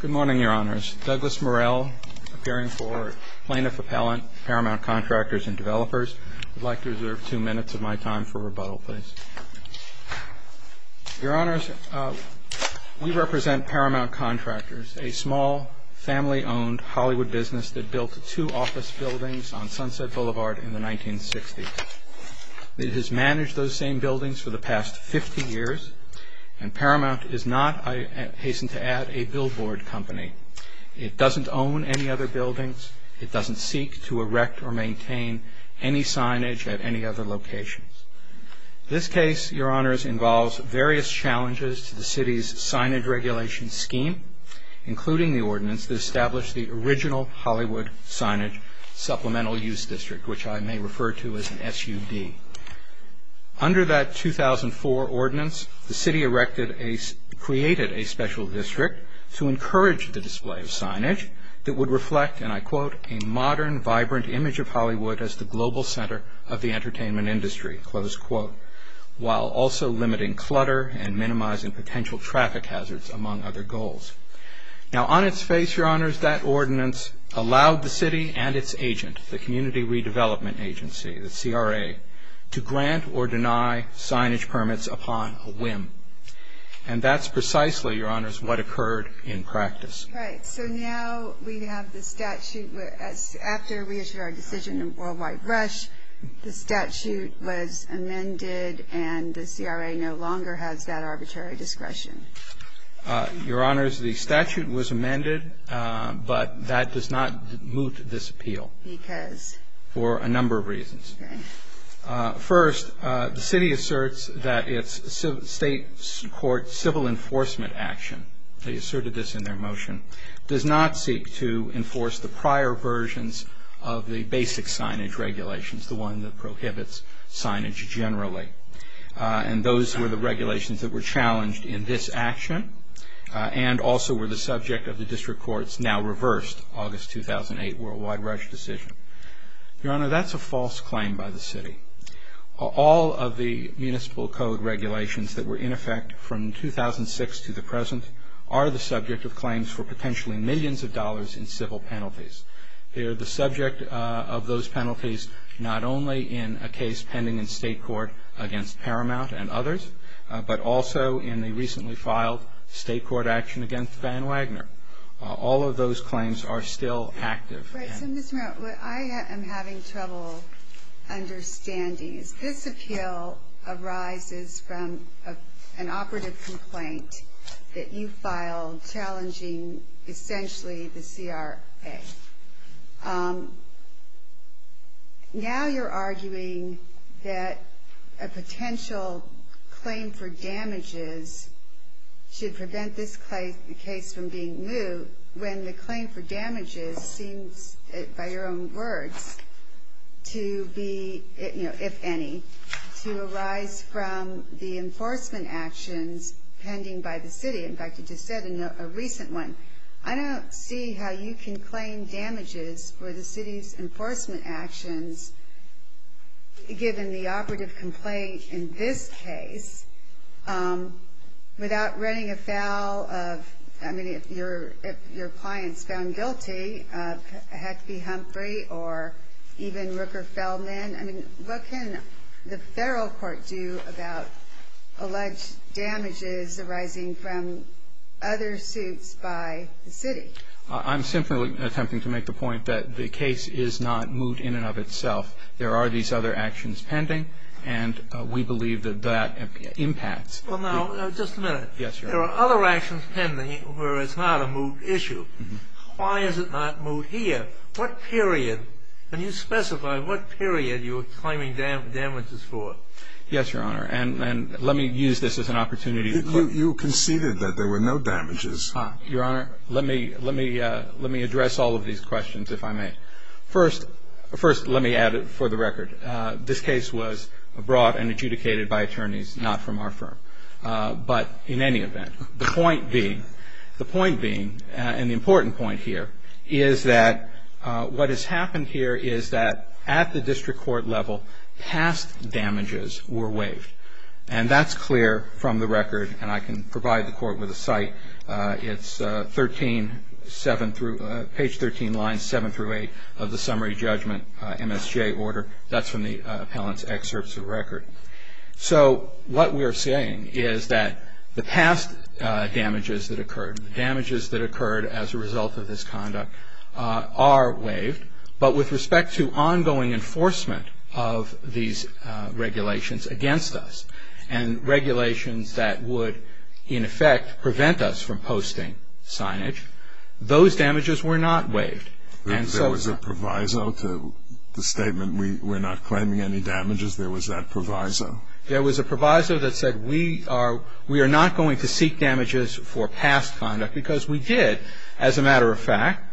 Good morning, Your Honors. Douglas Murrell, appearing for Plaintiff Appellant, Paramount Contractors and Developers. I'd like to reserve two minutes of my time for rebuttal, please. Your Honors, we represent Paramount Contractors, a small, family-owned Hollywood business that built two office buildings on Sunset Boulevard in the 1960s. It has managed those same buildings for the past 50 years, and Paramount is not, I hasten to add, a billboard company. It doesn't own any other buildings. It doesn't seek to erect or maintain any signage at any other locations. This case, Your Honors, involves various challenges to the city's signage regulation scheme, including the ordinance that established the original Hollywood Signage Supplemental Use District, which I may refer to as an SUD. Under that 2004 ordinance, the city created a special district to encourage the display of signage that would reflect, and I quote, a modern, vibrant image of Hollywood as the global center of the entertainment industry, close quote, while also limiting clutter and minimizing potential traffic hazards, among other goals. Now, on its face, Your Honors, that ordinance allowed the city and its agent, the Community Redevelopment Agency, the CRA, to grant or deny signage permits upon a whim, and that's precisely, Your Honors, what occurred in practice. Right. So now we have the statute. After we issued our decision in Worldwide Rush, the statute was amended, and the CRA no longer has that arbitrary discretion. Your Honors, the statute was amended, but that does not moot this appeal. Because? For a number of reasons. Okay. First, the city asserts that its state court civil enforcement action, they asserted this in their motion, does not seek to enforce the prior versions of the basic signage regulations, the one that prohibits signage generally. And those were the regulations that were challenged in this action, and also were the subject of the district court's now-reversed August 2008 Worldwide Rush decision. Your Honor, that's a false claim by the city. All of the municipal code regulations that were in effect from 2006 to the present are the subject of claims for potentially millions of dollars in civil penalties. They are the subject of those penalties not only in a case pending in state court against Paramount and others, but also in the recently filed state court action against Van Wagner. All of those claims are still active. Right. So, Ms. Merritt, what I am having trouble understanding is this appeal arises from an operative complaint that you filed challenging essentially the CRA. Now you're arguing that a potential claim for damages should prevent this case from being moot when the claim for damages seems, by your own words, to be, if any, to arise from the enforcement actions pending by the city. In fact, you just said in a recent one, I don't see how you can claim damages for the city's enforcement actions given the operative complaint in this case without writing a foul of, I mean, if your clients found guilty, it had to be Humphrey or even Rooker Feldman. I mean, what can the federal court do about alleged damages arising from other suits by the city? I'm simply attempting to make the point that the case is not moot in and of itself. There are these other actions pending, and we believe that that impacts. Well, now, just a minute. Yes, Your Honor. There are other actions pending where it's not a moot issue. Why is it not moot here? What period? Can you specify what period you are claiming damages for? Yes, Your Honor, and let me use this as an opportunity to clarify. You conceded that there were no damages. Your Honor, let me address all of these questions, if I may. First, let me add it for the record. This case was brought and adjudicated by attorneys, not from our firm. But in any event, the point being, and the important point here, is that what has happened here is that at the district court level, past damages were waived. And that's clear from the record, and I can provide the court with a cite. It's page 13, lines 7 through 8 of the summary judgment MSJ order. That's from the appellant's excerpts of record. So what we are saying is that the past damages that occurred, the damages that occurred as a result of this conduct, are waived. But with respect to ongoing enforcement of these regulations against us, and regulations that would, in effect, prevent us from posting signage, those damages were not waived. There was a proviso to the statement, we're not claiming any damages? There was that proviso? There was a proviso that said we are not going to seek damages for past conduct, because we did, as a matter of fact.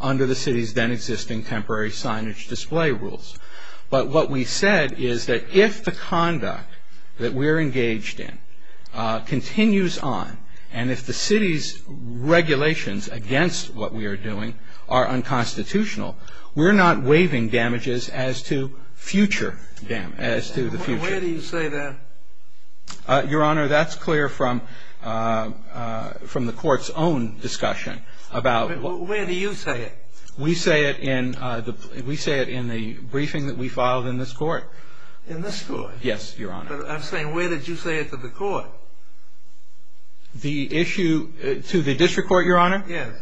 under the city's then existing temporary signage display rules. But what we said is that if the conduct that we're engaged in continues on, and if the city's regulations against what we are doing are unconstitutional, we're not waiving damages as to future damage, as to the future. Where do you say that? Your Honor, that's clear from the court's own discussion about. Where do you say it? We say it in the briefing that we filed in this court. In this court? Yes, Your Honor. But I'm saying where did you say it to the court? The issue, to the district court, Your Honor? Yes.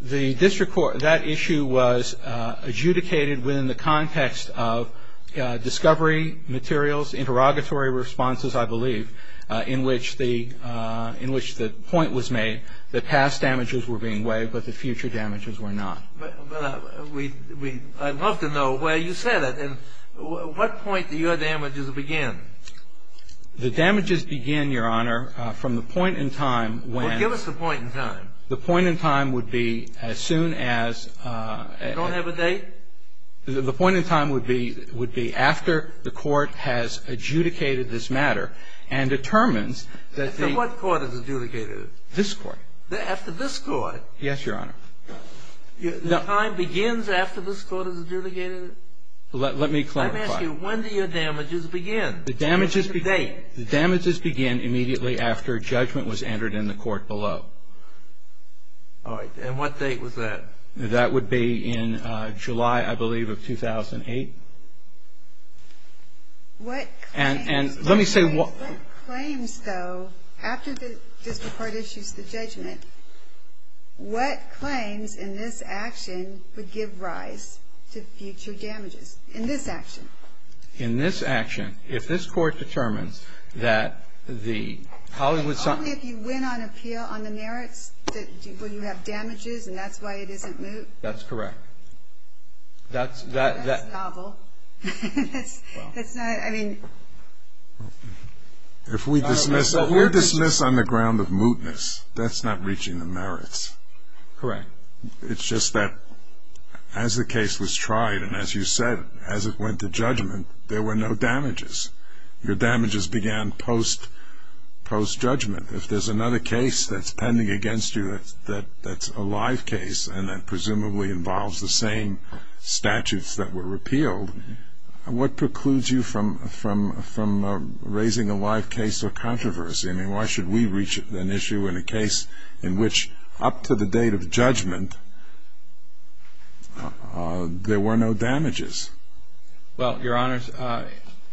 The district court, that issue was adjudicated within the context of discovery, materials, interrogatory responses, I believe, in which the point was made that past damages were being waived but the future damages were not. But I'd love to know where you said it. And what point do your damages begin? The damages begin, Your Honor, from the point in time when. Well, give us the point in time. The point in time would be as soon as... You don't have a date? The point in time would be after the court has adjudicated this matter and determines that the... So what court has adjudicated it? This court. After this court? Yes, Your Honor. The time begins after this court has adjudicated it? Let me clarify. Let me ask you, when do your damages begin? The damages begin. Give us a date. The damages begin immediately after judgment was entered in the court below. All right. And what date was that? That would be in July, I believe, of 2008. What claims? Let me say... What claims in this action would give rise to future damages? In this action? In this action, if this court determines that the Hollywood... Only if you win on appeal on the merits will you have damages, and that's why it isn't moot? That's correct. That's novel. That's not... I mean... You're dismissed on the ground of mootness. That's not reaching the merits. Correct. It's just that as the case was tried, and as you said, as it went to judgment, there were no damages. Your damages began post-judgment. If there's another case that's pending against you that's a live case and that presumably involves the same statutes that were repealed, what precludes you from raising a live case or controversy? I mean, why should we reach an issue in a case in which up to the date of judgment there were no damages? Well, Your Honors,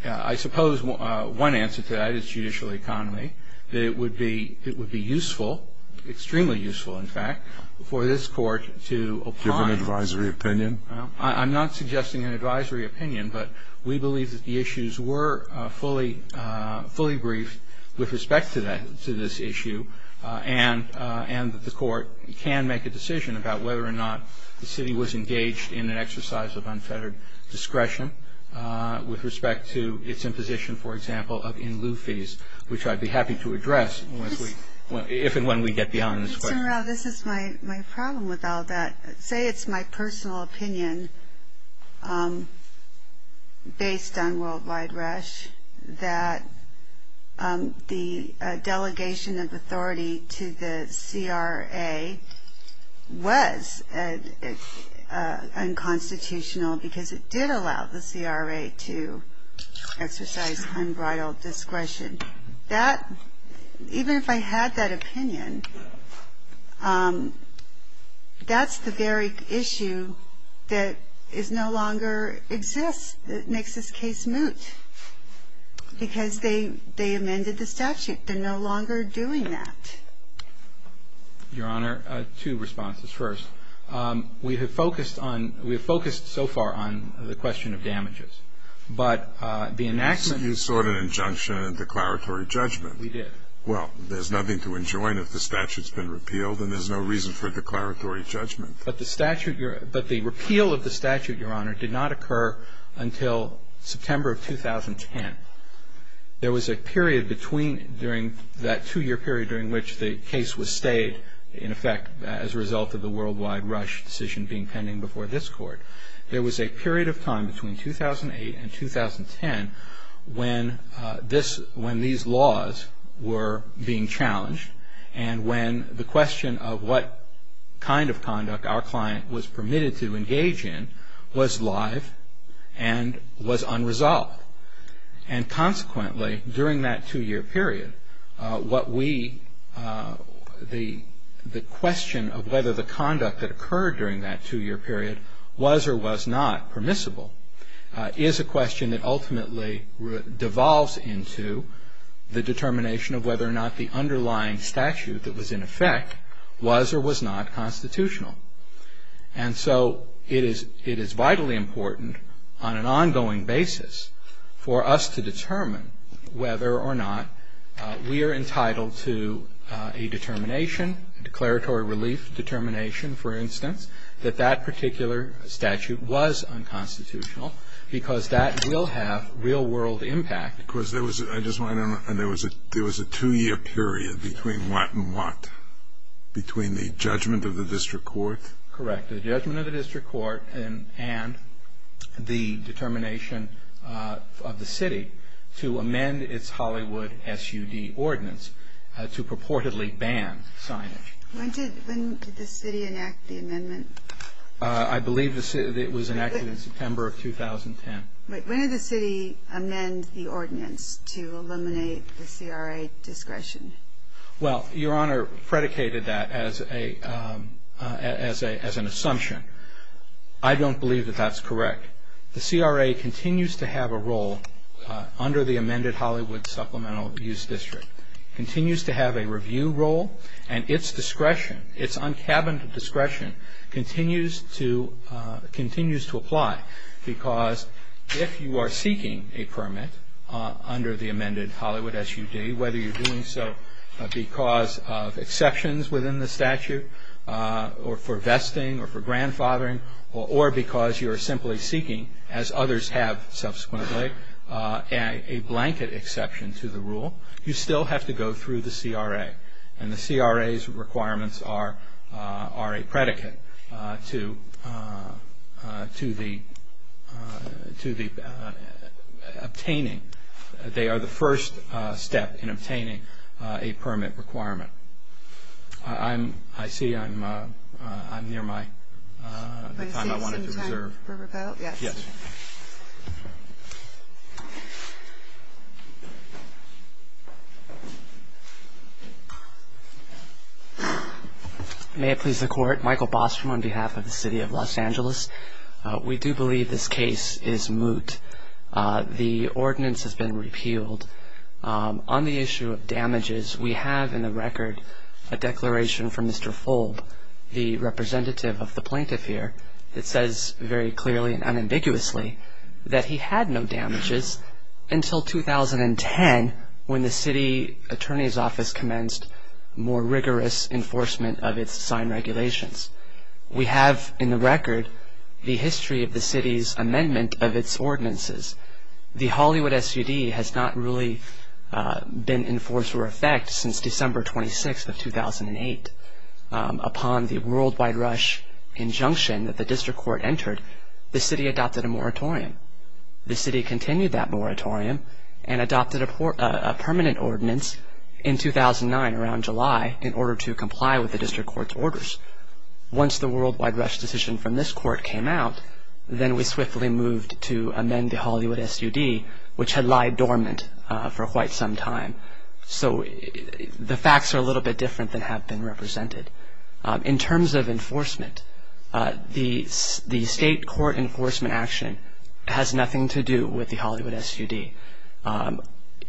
I suppose one answer to that is judicial economy, that it would be useful, extremely useful, in fact, for this court to apply... Give an advisory opinion? I'm not suggesting an advisory opinion, but we believe that the issues were fully briefed with respect to this issue, and the court can make a decision about whether or not the city was engaged in an exercise of unfettered discretion with respect to its imposition, for example, of in-lieu fees, which I'd be happy to address if and when we get beyond this question. Mr. Morrell, this is my problem with all that. Say it's my personal opinion, based on worldwide rush, that the delegation of authority to the CRA was unconstitutional because it did allow the CRA to exercise unbridled discretion. That, even if I had that opinion, that's the very issue that is no longer exists, that makes this case moot, because they amended the statute. They're no longer doing that. Your Honor, two responses. First, we have focused so far on the question of damages, but the enactment... We did. Well, there's nothing to enjoin if the statute's been repealed, and there's no reason for declaratory judgment. But the statute... But the repeal of the statute, Your Honor, did not occur until September of 2010. There was a period between during that two-year period during which the case was stayed, in effect, as a result of the worldwide rush decision being pending before this Court. There was a period of time between 2008 and 2010 when these laws were being challenged and when the question of what kind of conduct our client was permitted to engage in was live and was unresolved. And consequently, during that two-year period, what we... The question of whether the conduct that occurred during that two-year period was or was not permissible is a question that ultimately devolves into the determination of whether or not the underlying statute that was in effect was or was not constitutional. And so it is vitally important on an ongoing basis for us to determine whether or not we are entitled to a determination, a declaratory relief determination, for instance, that that particular statute was unconstitutional because that will have real-world impact. Because there was a two-year period between what and what? Between the judgment of the district court? Correct. The judgment of the district court and the determination of the city to amend its Hollywood SUD ordinance to purportedly ban signage. When did the city enact the amendment? I believe it was enacted in September of 2010. When did the city amend the ordinance to eliminate the CRA discretion? Well, Your Honor predicated that as an assumption. I don't believe that that's correct. The CRA continues to have a role under the amended Hollywood Supplemental Use District. It continues to have a review role, and its discretion, its un-cabined discretion, continues to apply. Because if you are seeking a permit under the amended Hollywood SUD, whether you're doing so because of exceptions within the statute or for vesting or for grandfathering or because you're simply seeking, as others have subsequently, a blanket exception to the rule, you still have to go through the CRA. And the CRA's requirements are a predicate to the obtaining. They are the first step in obtaining a permit requirement. I see I'm near the time I wanted to reserve. May I see you some time for rebuttal? Yes. May it please the Court, Michael Bostrom on behalf of the City of Los Angeles. We do believe this case is moot. The ordinance has been repealed. On the issue of damages, we have in the record a declaration from Mr. Fold, the representative of the plaintiff here, that says very clearly and unambiguously that he had no damages until 2010, when the city attorney's office commenced more rigorous enforcement of its signed regulations. We have in the record the history of the city's amendment of its ordinances. The Hollywood SUD has not really been in force or effect since December 26th of 2008. Upon the worldwide rush injunction that the district court entered, the city adopted a moratorium. The city continued that moratorium and adopted a permanent ordinance in 2009, around July, in order to comply with the district court's orders. Once the worldwide rush decision from this court came out, then we swiftly moved to amend the Hollywood SUD, which had lied dormant for quite some time. So the facts are a little bit different than have been represented. In terms of enforcement, the state court enforcement action has nothing to do with the Hollywood SUD.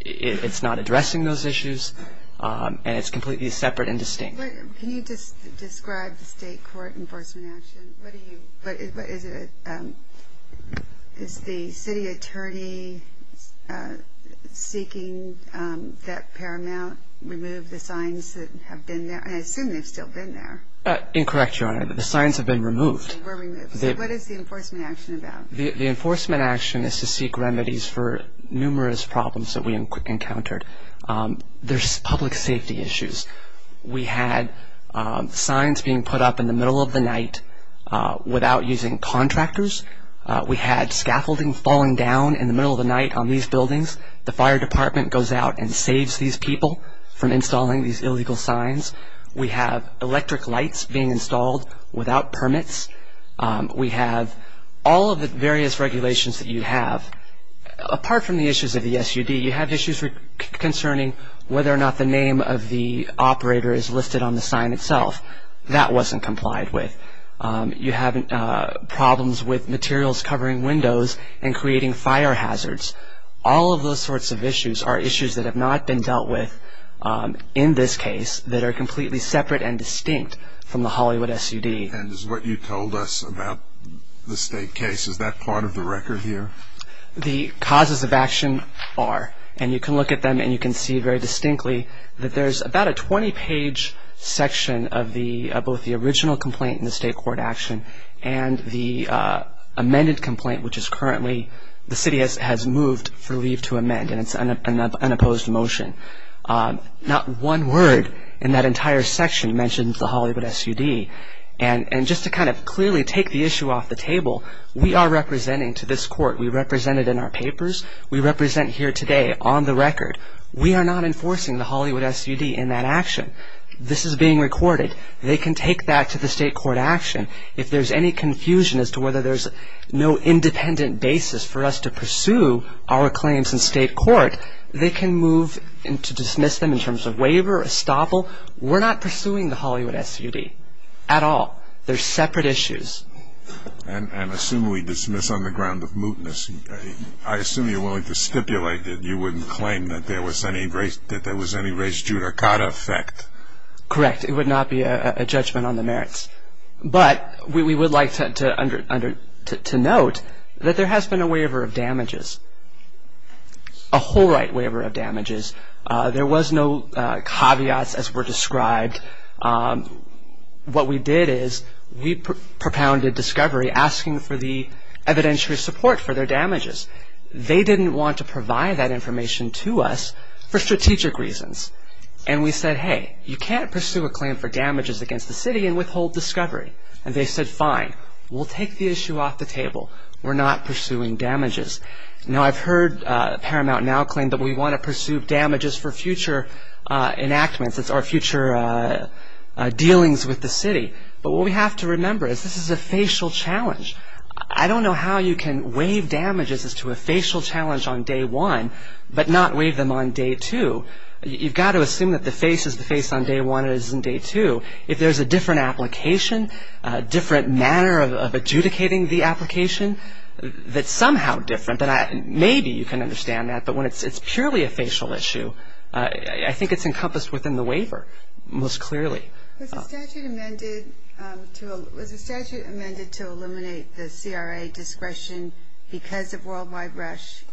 It's not addressing those issues, and it's completely separate and distinct. Can you describe the state court enforcement action? Is the city attorney seeking that Paramount remove the signs that have been there? I assume they've still been there. Incorrect, Your Honor. The signs have been removed. They were removed. So what is the enforcement action about? The enforcement action is to seek remedies for numerous problems that we encountered. There's public safety issues. We had signs being put up in the middle of the night without using contractors. We had scaffolding falling down in the middle of the night on these buildings. The fire department goes out and saves these people from installing these illegal signs. We have electric lights being installed without permits. We have all of the various regulations that you have. Apart from the issues of the SUD, you have issues concerning whether or not the name of the operator is listed on the sign itself. That wasn't complied with. You have problems with materials covering windows and creating fire hazards. All of those sorts of issues are issues that have not been dealt with in this case that are completely separate and distinct from the Hollywood SUD. And is what you told us about the state case, is that part of the record here? The causes of action are. And you can look at them and you can see very distinctly that there's about a 20-page section of both the original complaint in the state court action and the amended complaint, which the city has moved for leave to amend, and it's an unopposed motion. Not one word in that entire section mentions the Hollywood SUD. And just to kind of clearly take the issue off the table, we are representing to this court. We represent it in our papers. We represent here today on the record. We are not enforcing the Hollywood SUD in that action. This is being recorded. They can take that to the state court action. If there's any confusion as to whether there's no independent basis for us to pursue our claims in state court, they can move to dismiss them in terms of waiver or estoppel. We're not pursuing the Hollywood SUD at all. They're separate issues. And assume we dismiss on the ground of mootness. I assume you're willing to stipulate that you wouldn't claim that there was any race judicata effect. Correct. It would not be a judgment on the merits. But we would like to note that there has been a waiver of damages. A whole right waiver of damages. There was no caveats as were described. What we did is we propounded discovery asking for the evidentiary support for their damages. They didn't want to provide that information to us for strategic reasons. And we said, hey, you can't pursue a claim for damages against the city and withhold discovery. And they said, fine, we'll take the issue off the table. We're not pursuing damages. Now, I've heard Paramount now claim that we want to pursue damages for future enactments or future dealings with the city. But what we have to remember is this is a facial challenge. I don't know how you can waive damages as to a facial challenge on day one but not waive them on day two. You've got to assume that the face is the face on day one and it isn't day two. If there's a different application, different manner of adjudicating the application that's somehow different, maybe you can understand that, but when it's purely a facial issue, I think it's encompassed within the waiver most clearly. Was the statute amended to eliminate the CRA discretion because of worldwide rush?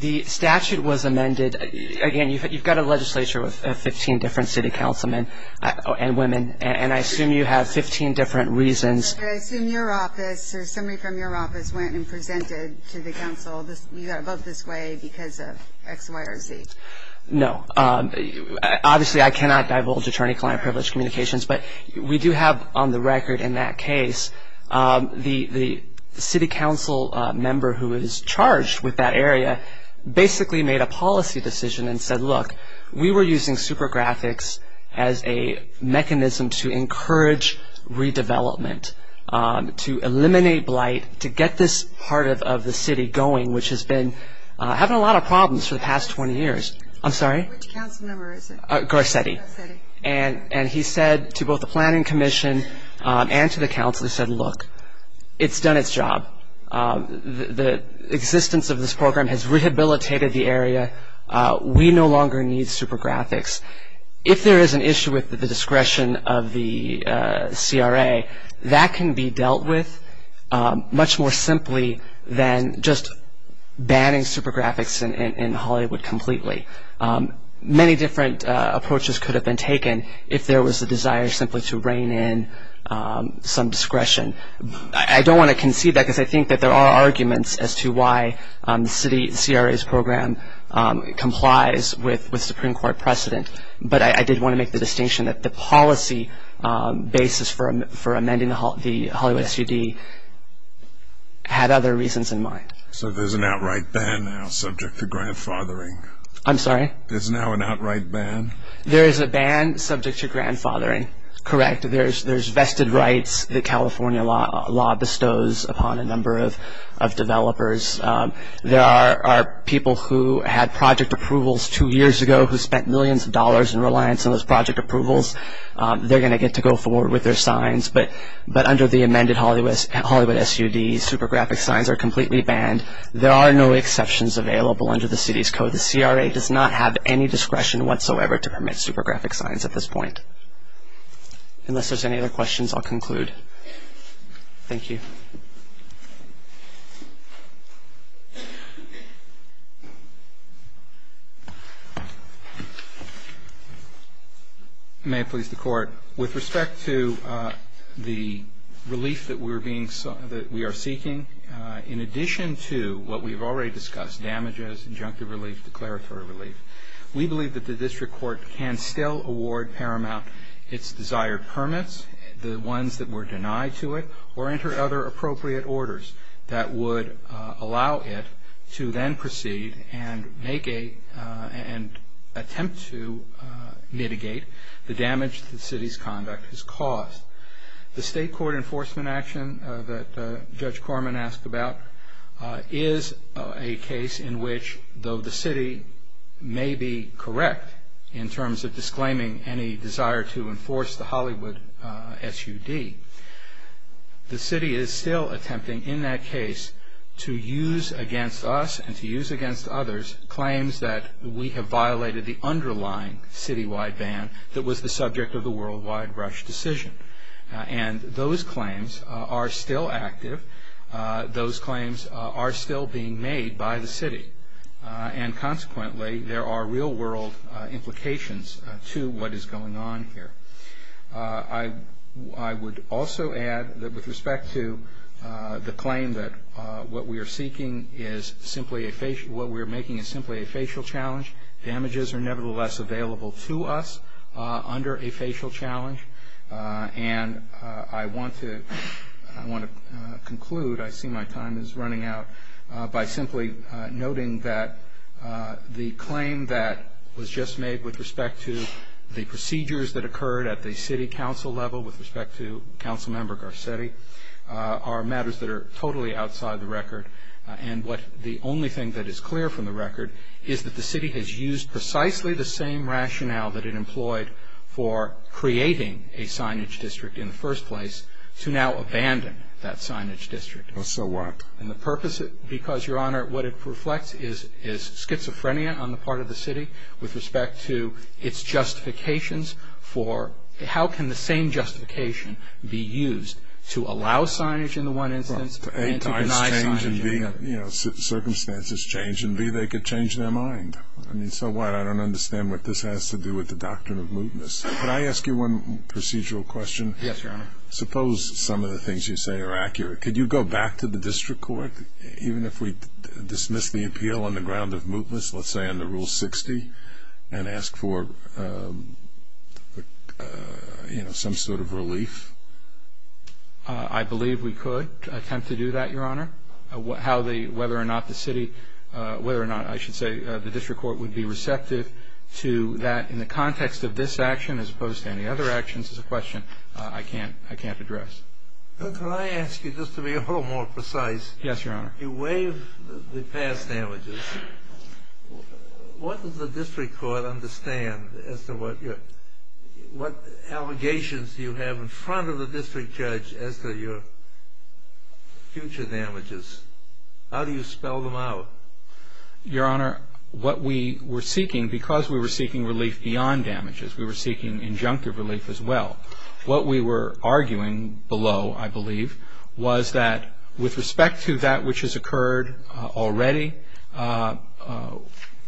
The statute was amended. Again, you've got a legislature with 15 different city councilmen and women, and I assume you have 15 different reasons. I assume your office or somebody from your office went and presented to the council, you've got to vote this way because of X, Y, or Z. No. Obviously, I cannot divulge attorney-client privilege communications, but we do have on the record in that case the city council member who is charged with that area basically made a policy decision and said, look, we were using super graphics as a mechanism to encourage redevelopment, to eliminate blight, to get this part of the city going, which has been having a lot of problems for the past 20 years. I'm sorry? Which council member is it? Garcetti. And he said to both the planning commission and to the council, he said, look, it's done its job. The existence of this program has rehabilitated the area. We no longer need super graphics. If there is an issue with the discretion of the CRA, that can be dealt with much more simply than just banning super graphics in Hollywood completely. Many different approaches could have been taken if there was a desire simply to rein in some discretion. I don't want to concede that because I think that there are arguments as to why the CRA's program complies with Supreme Court precedent, but I did want to make the distinction that the policy basis for amending the Hollywood SUD had other reasons in mind. So there's an outright ban now subject to grandfathering? I'm sorry? There's now an outright ban? There is a ban subject to grandfathering, correct. There's vested rights that California law bestows upon a number of developers. There are people who had project approvals two years ago who spent millions of dollars in reliance on those project approvals. They're going to get to go forward with their signs, but under the amended Hollywood SUD, super graphic signs are completely banned. There are no exceptions available under the city's code. The CRA does not have any discretion whatsoever to permit super graphic signs at this point. Unless there's any other questions, I'll conclude. Thank you. May it please the Court, with respect to the relief that we are seeking, in addition to what we've already discussed, damages, injunctive relief, declaratory relief, we believe that the district court can still award paramount its desired permits, the ones that were denied to it, or enter other appropriate orders that would allow it to then proceed and make a, and attempt to mitigate the damage that the city's conduct has caused. The state court enforcement action that Judge Corman asked about is a case in which, though the city may be correct in terms of disclaiming any desire to enforce the Hollywood SUD, the city is still attempting in that case to use against us and to use against others claims that we have violated the underlying citywide ban that was the subject of the World Wide Rush decision. And those claims are still active. Those claims are still being made by the city. And consequently, there are real world implications to what is going on here. I would also add that with respect to the claim that what we are seeking is simply a, what we are making is simply a facial challenge. Damages are nevertheless available to us under a facial challenge. And I want to conclude, I see my time is running out, by simply noting that the claim that was just made with respect to the procedures that occurred at the city council level with respect to Council Member Garcetti are matters that are totally outside the record. And the only thing that is clear from the record is that the city has used precisely the same rationale that it employed for creating a signage district in the first place to now abandon that signage district. So what? And the purpose, because Your Honor, what it reflects is schizophrenia on the part of the city with respect to its justifications for how can the same justification be used to allow signage in the one instance A, circumstances change, and B, they could change their mind. So what? I don't understand what this has to do with the doctrine of mootness. Could I ask you one procedural question? Yes, Your Honor. Suppose some of the things you say are accurate. Could you go back to the district court, even if we dismiss the appeal on the ground of mootness, let's say under Rule 60, and ask for some sort of relief? I believe we could attempt to do that, Your Honor. Whether or not the district court would be receptive to that in the context of this action as opposed to any other actions is a question I can't address. Could I ask you, just to be a little more precise? Yes, Your Honor. You waive the past damages. What does the district court understand as to what allegations you have in front of the district judge as to your future damages? How do you spell them out? Your Honor, what we were seeking, because we were seeking relief beyond damages, we were seeking injunctive relief as well, what we were arguing below, I believe, was that with respect to that which has occurred already,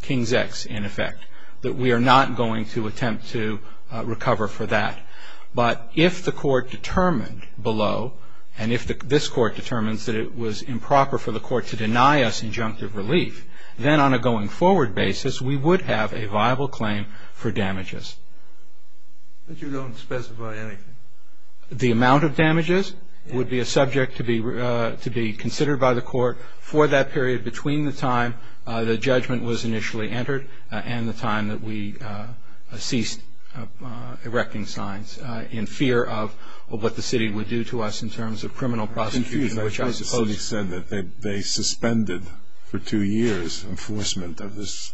King's X in effect, that we are not going to attempt to recover for that. But if the court determined below, and if this court determines that it was improper for the court to deny us injunctive relief, then on a going forward basis we would have a viable claim for damages. But you don't specify anything. The amount of damages would be a subject to be considered by the court for that period between the time the judgment was initially entered and the time that we ceased erecting signs in fear of what the city would do to us in terms of criminal prosecution, which I suppose they suspended for two years enforcement of this.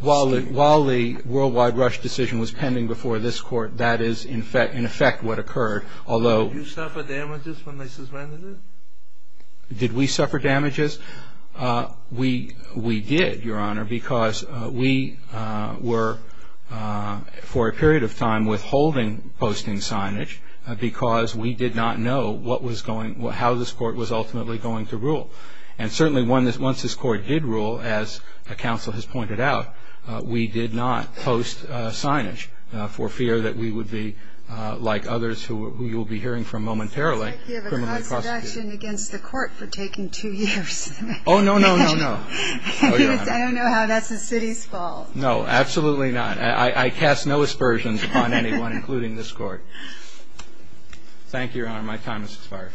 While the worldwide rush decision was pending before this court, that is in effect what occurred. Did you suffer damages when they suspended it? Did we suffer damages? We did, Your Honor, because we were for a period of time withholding posting signage because we did not know how this court was ultimately going to rule. And certainly once this court did rule, as the counsel has pointed out, we did not post signage for fear that we would be, like others who you will be hearing from momentarily, criminally prosecuted. You have a cross-section against the court for taking two years. Oh, no, no, no, no. I don't know how that's the city's fault. No, absolutely not. I cast no aspersions upon anyone, including this court. Thank you, Your Honor. My time has expired.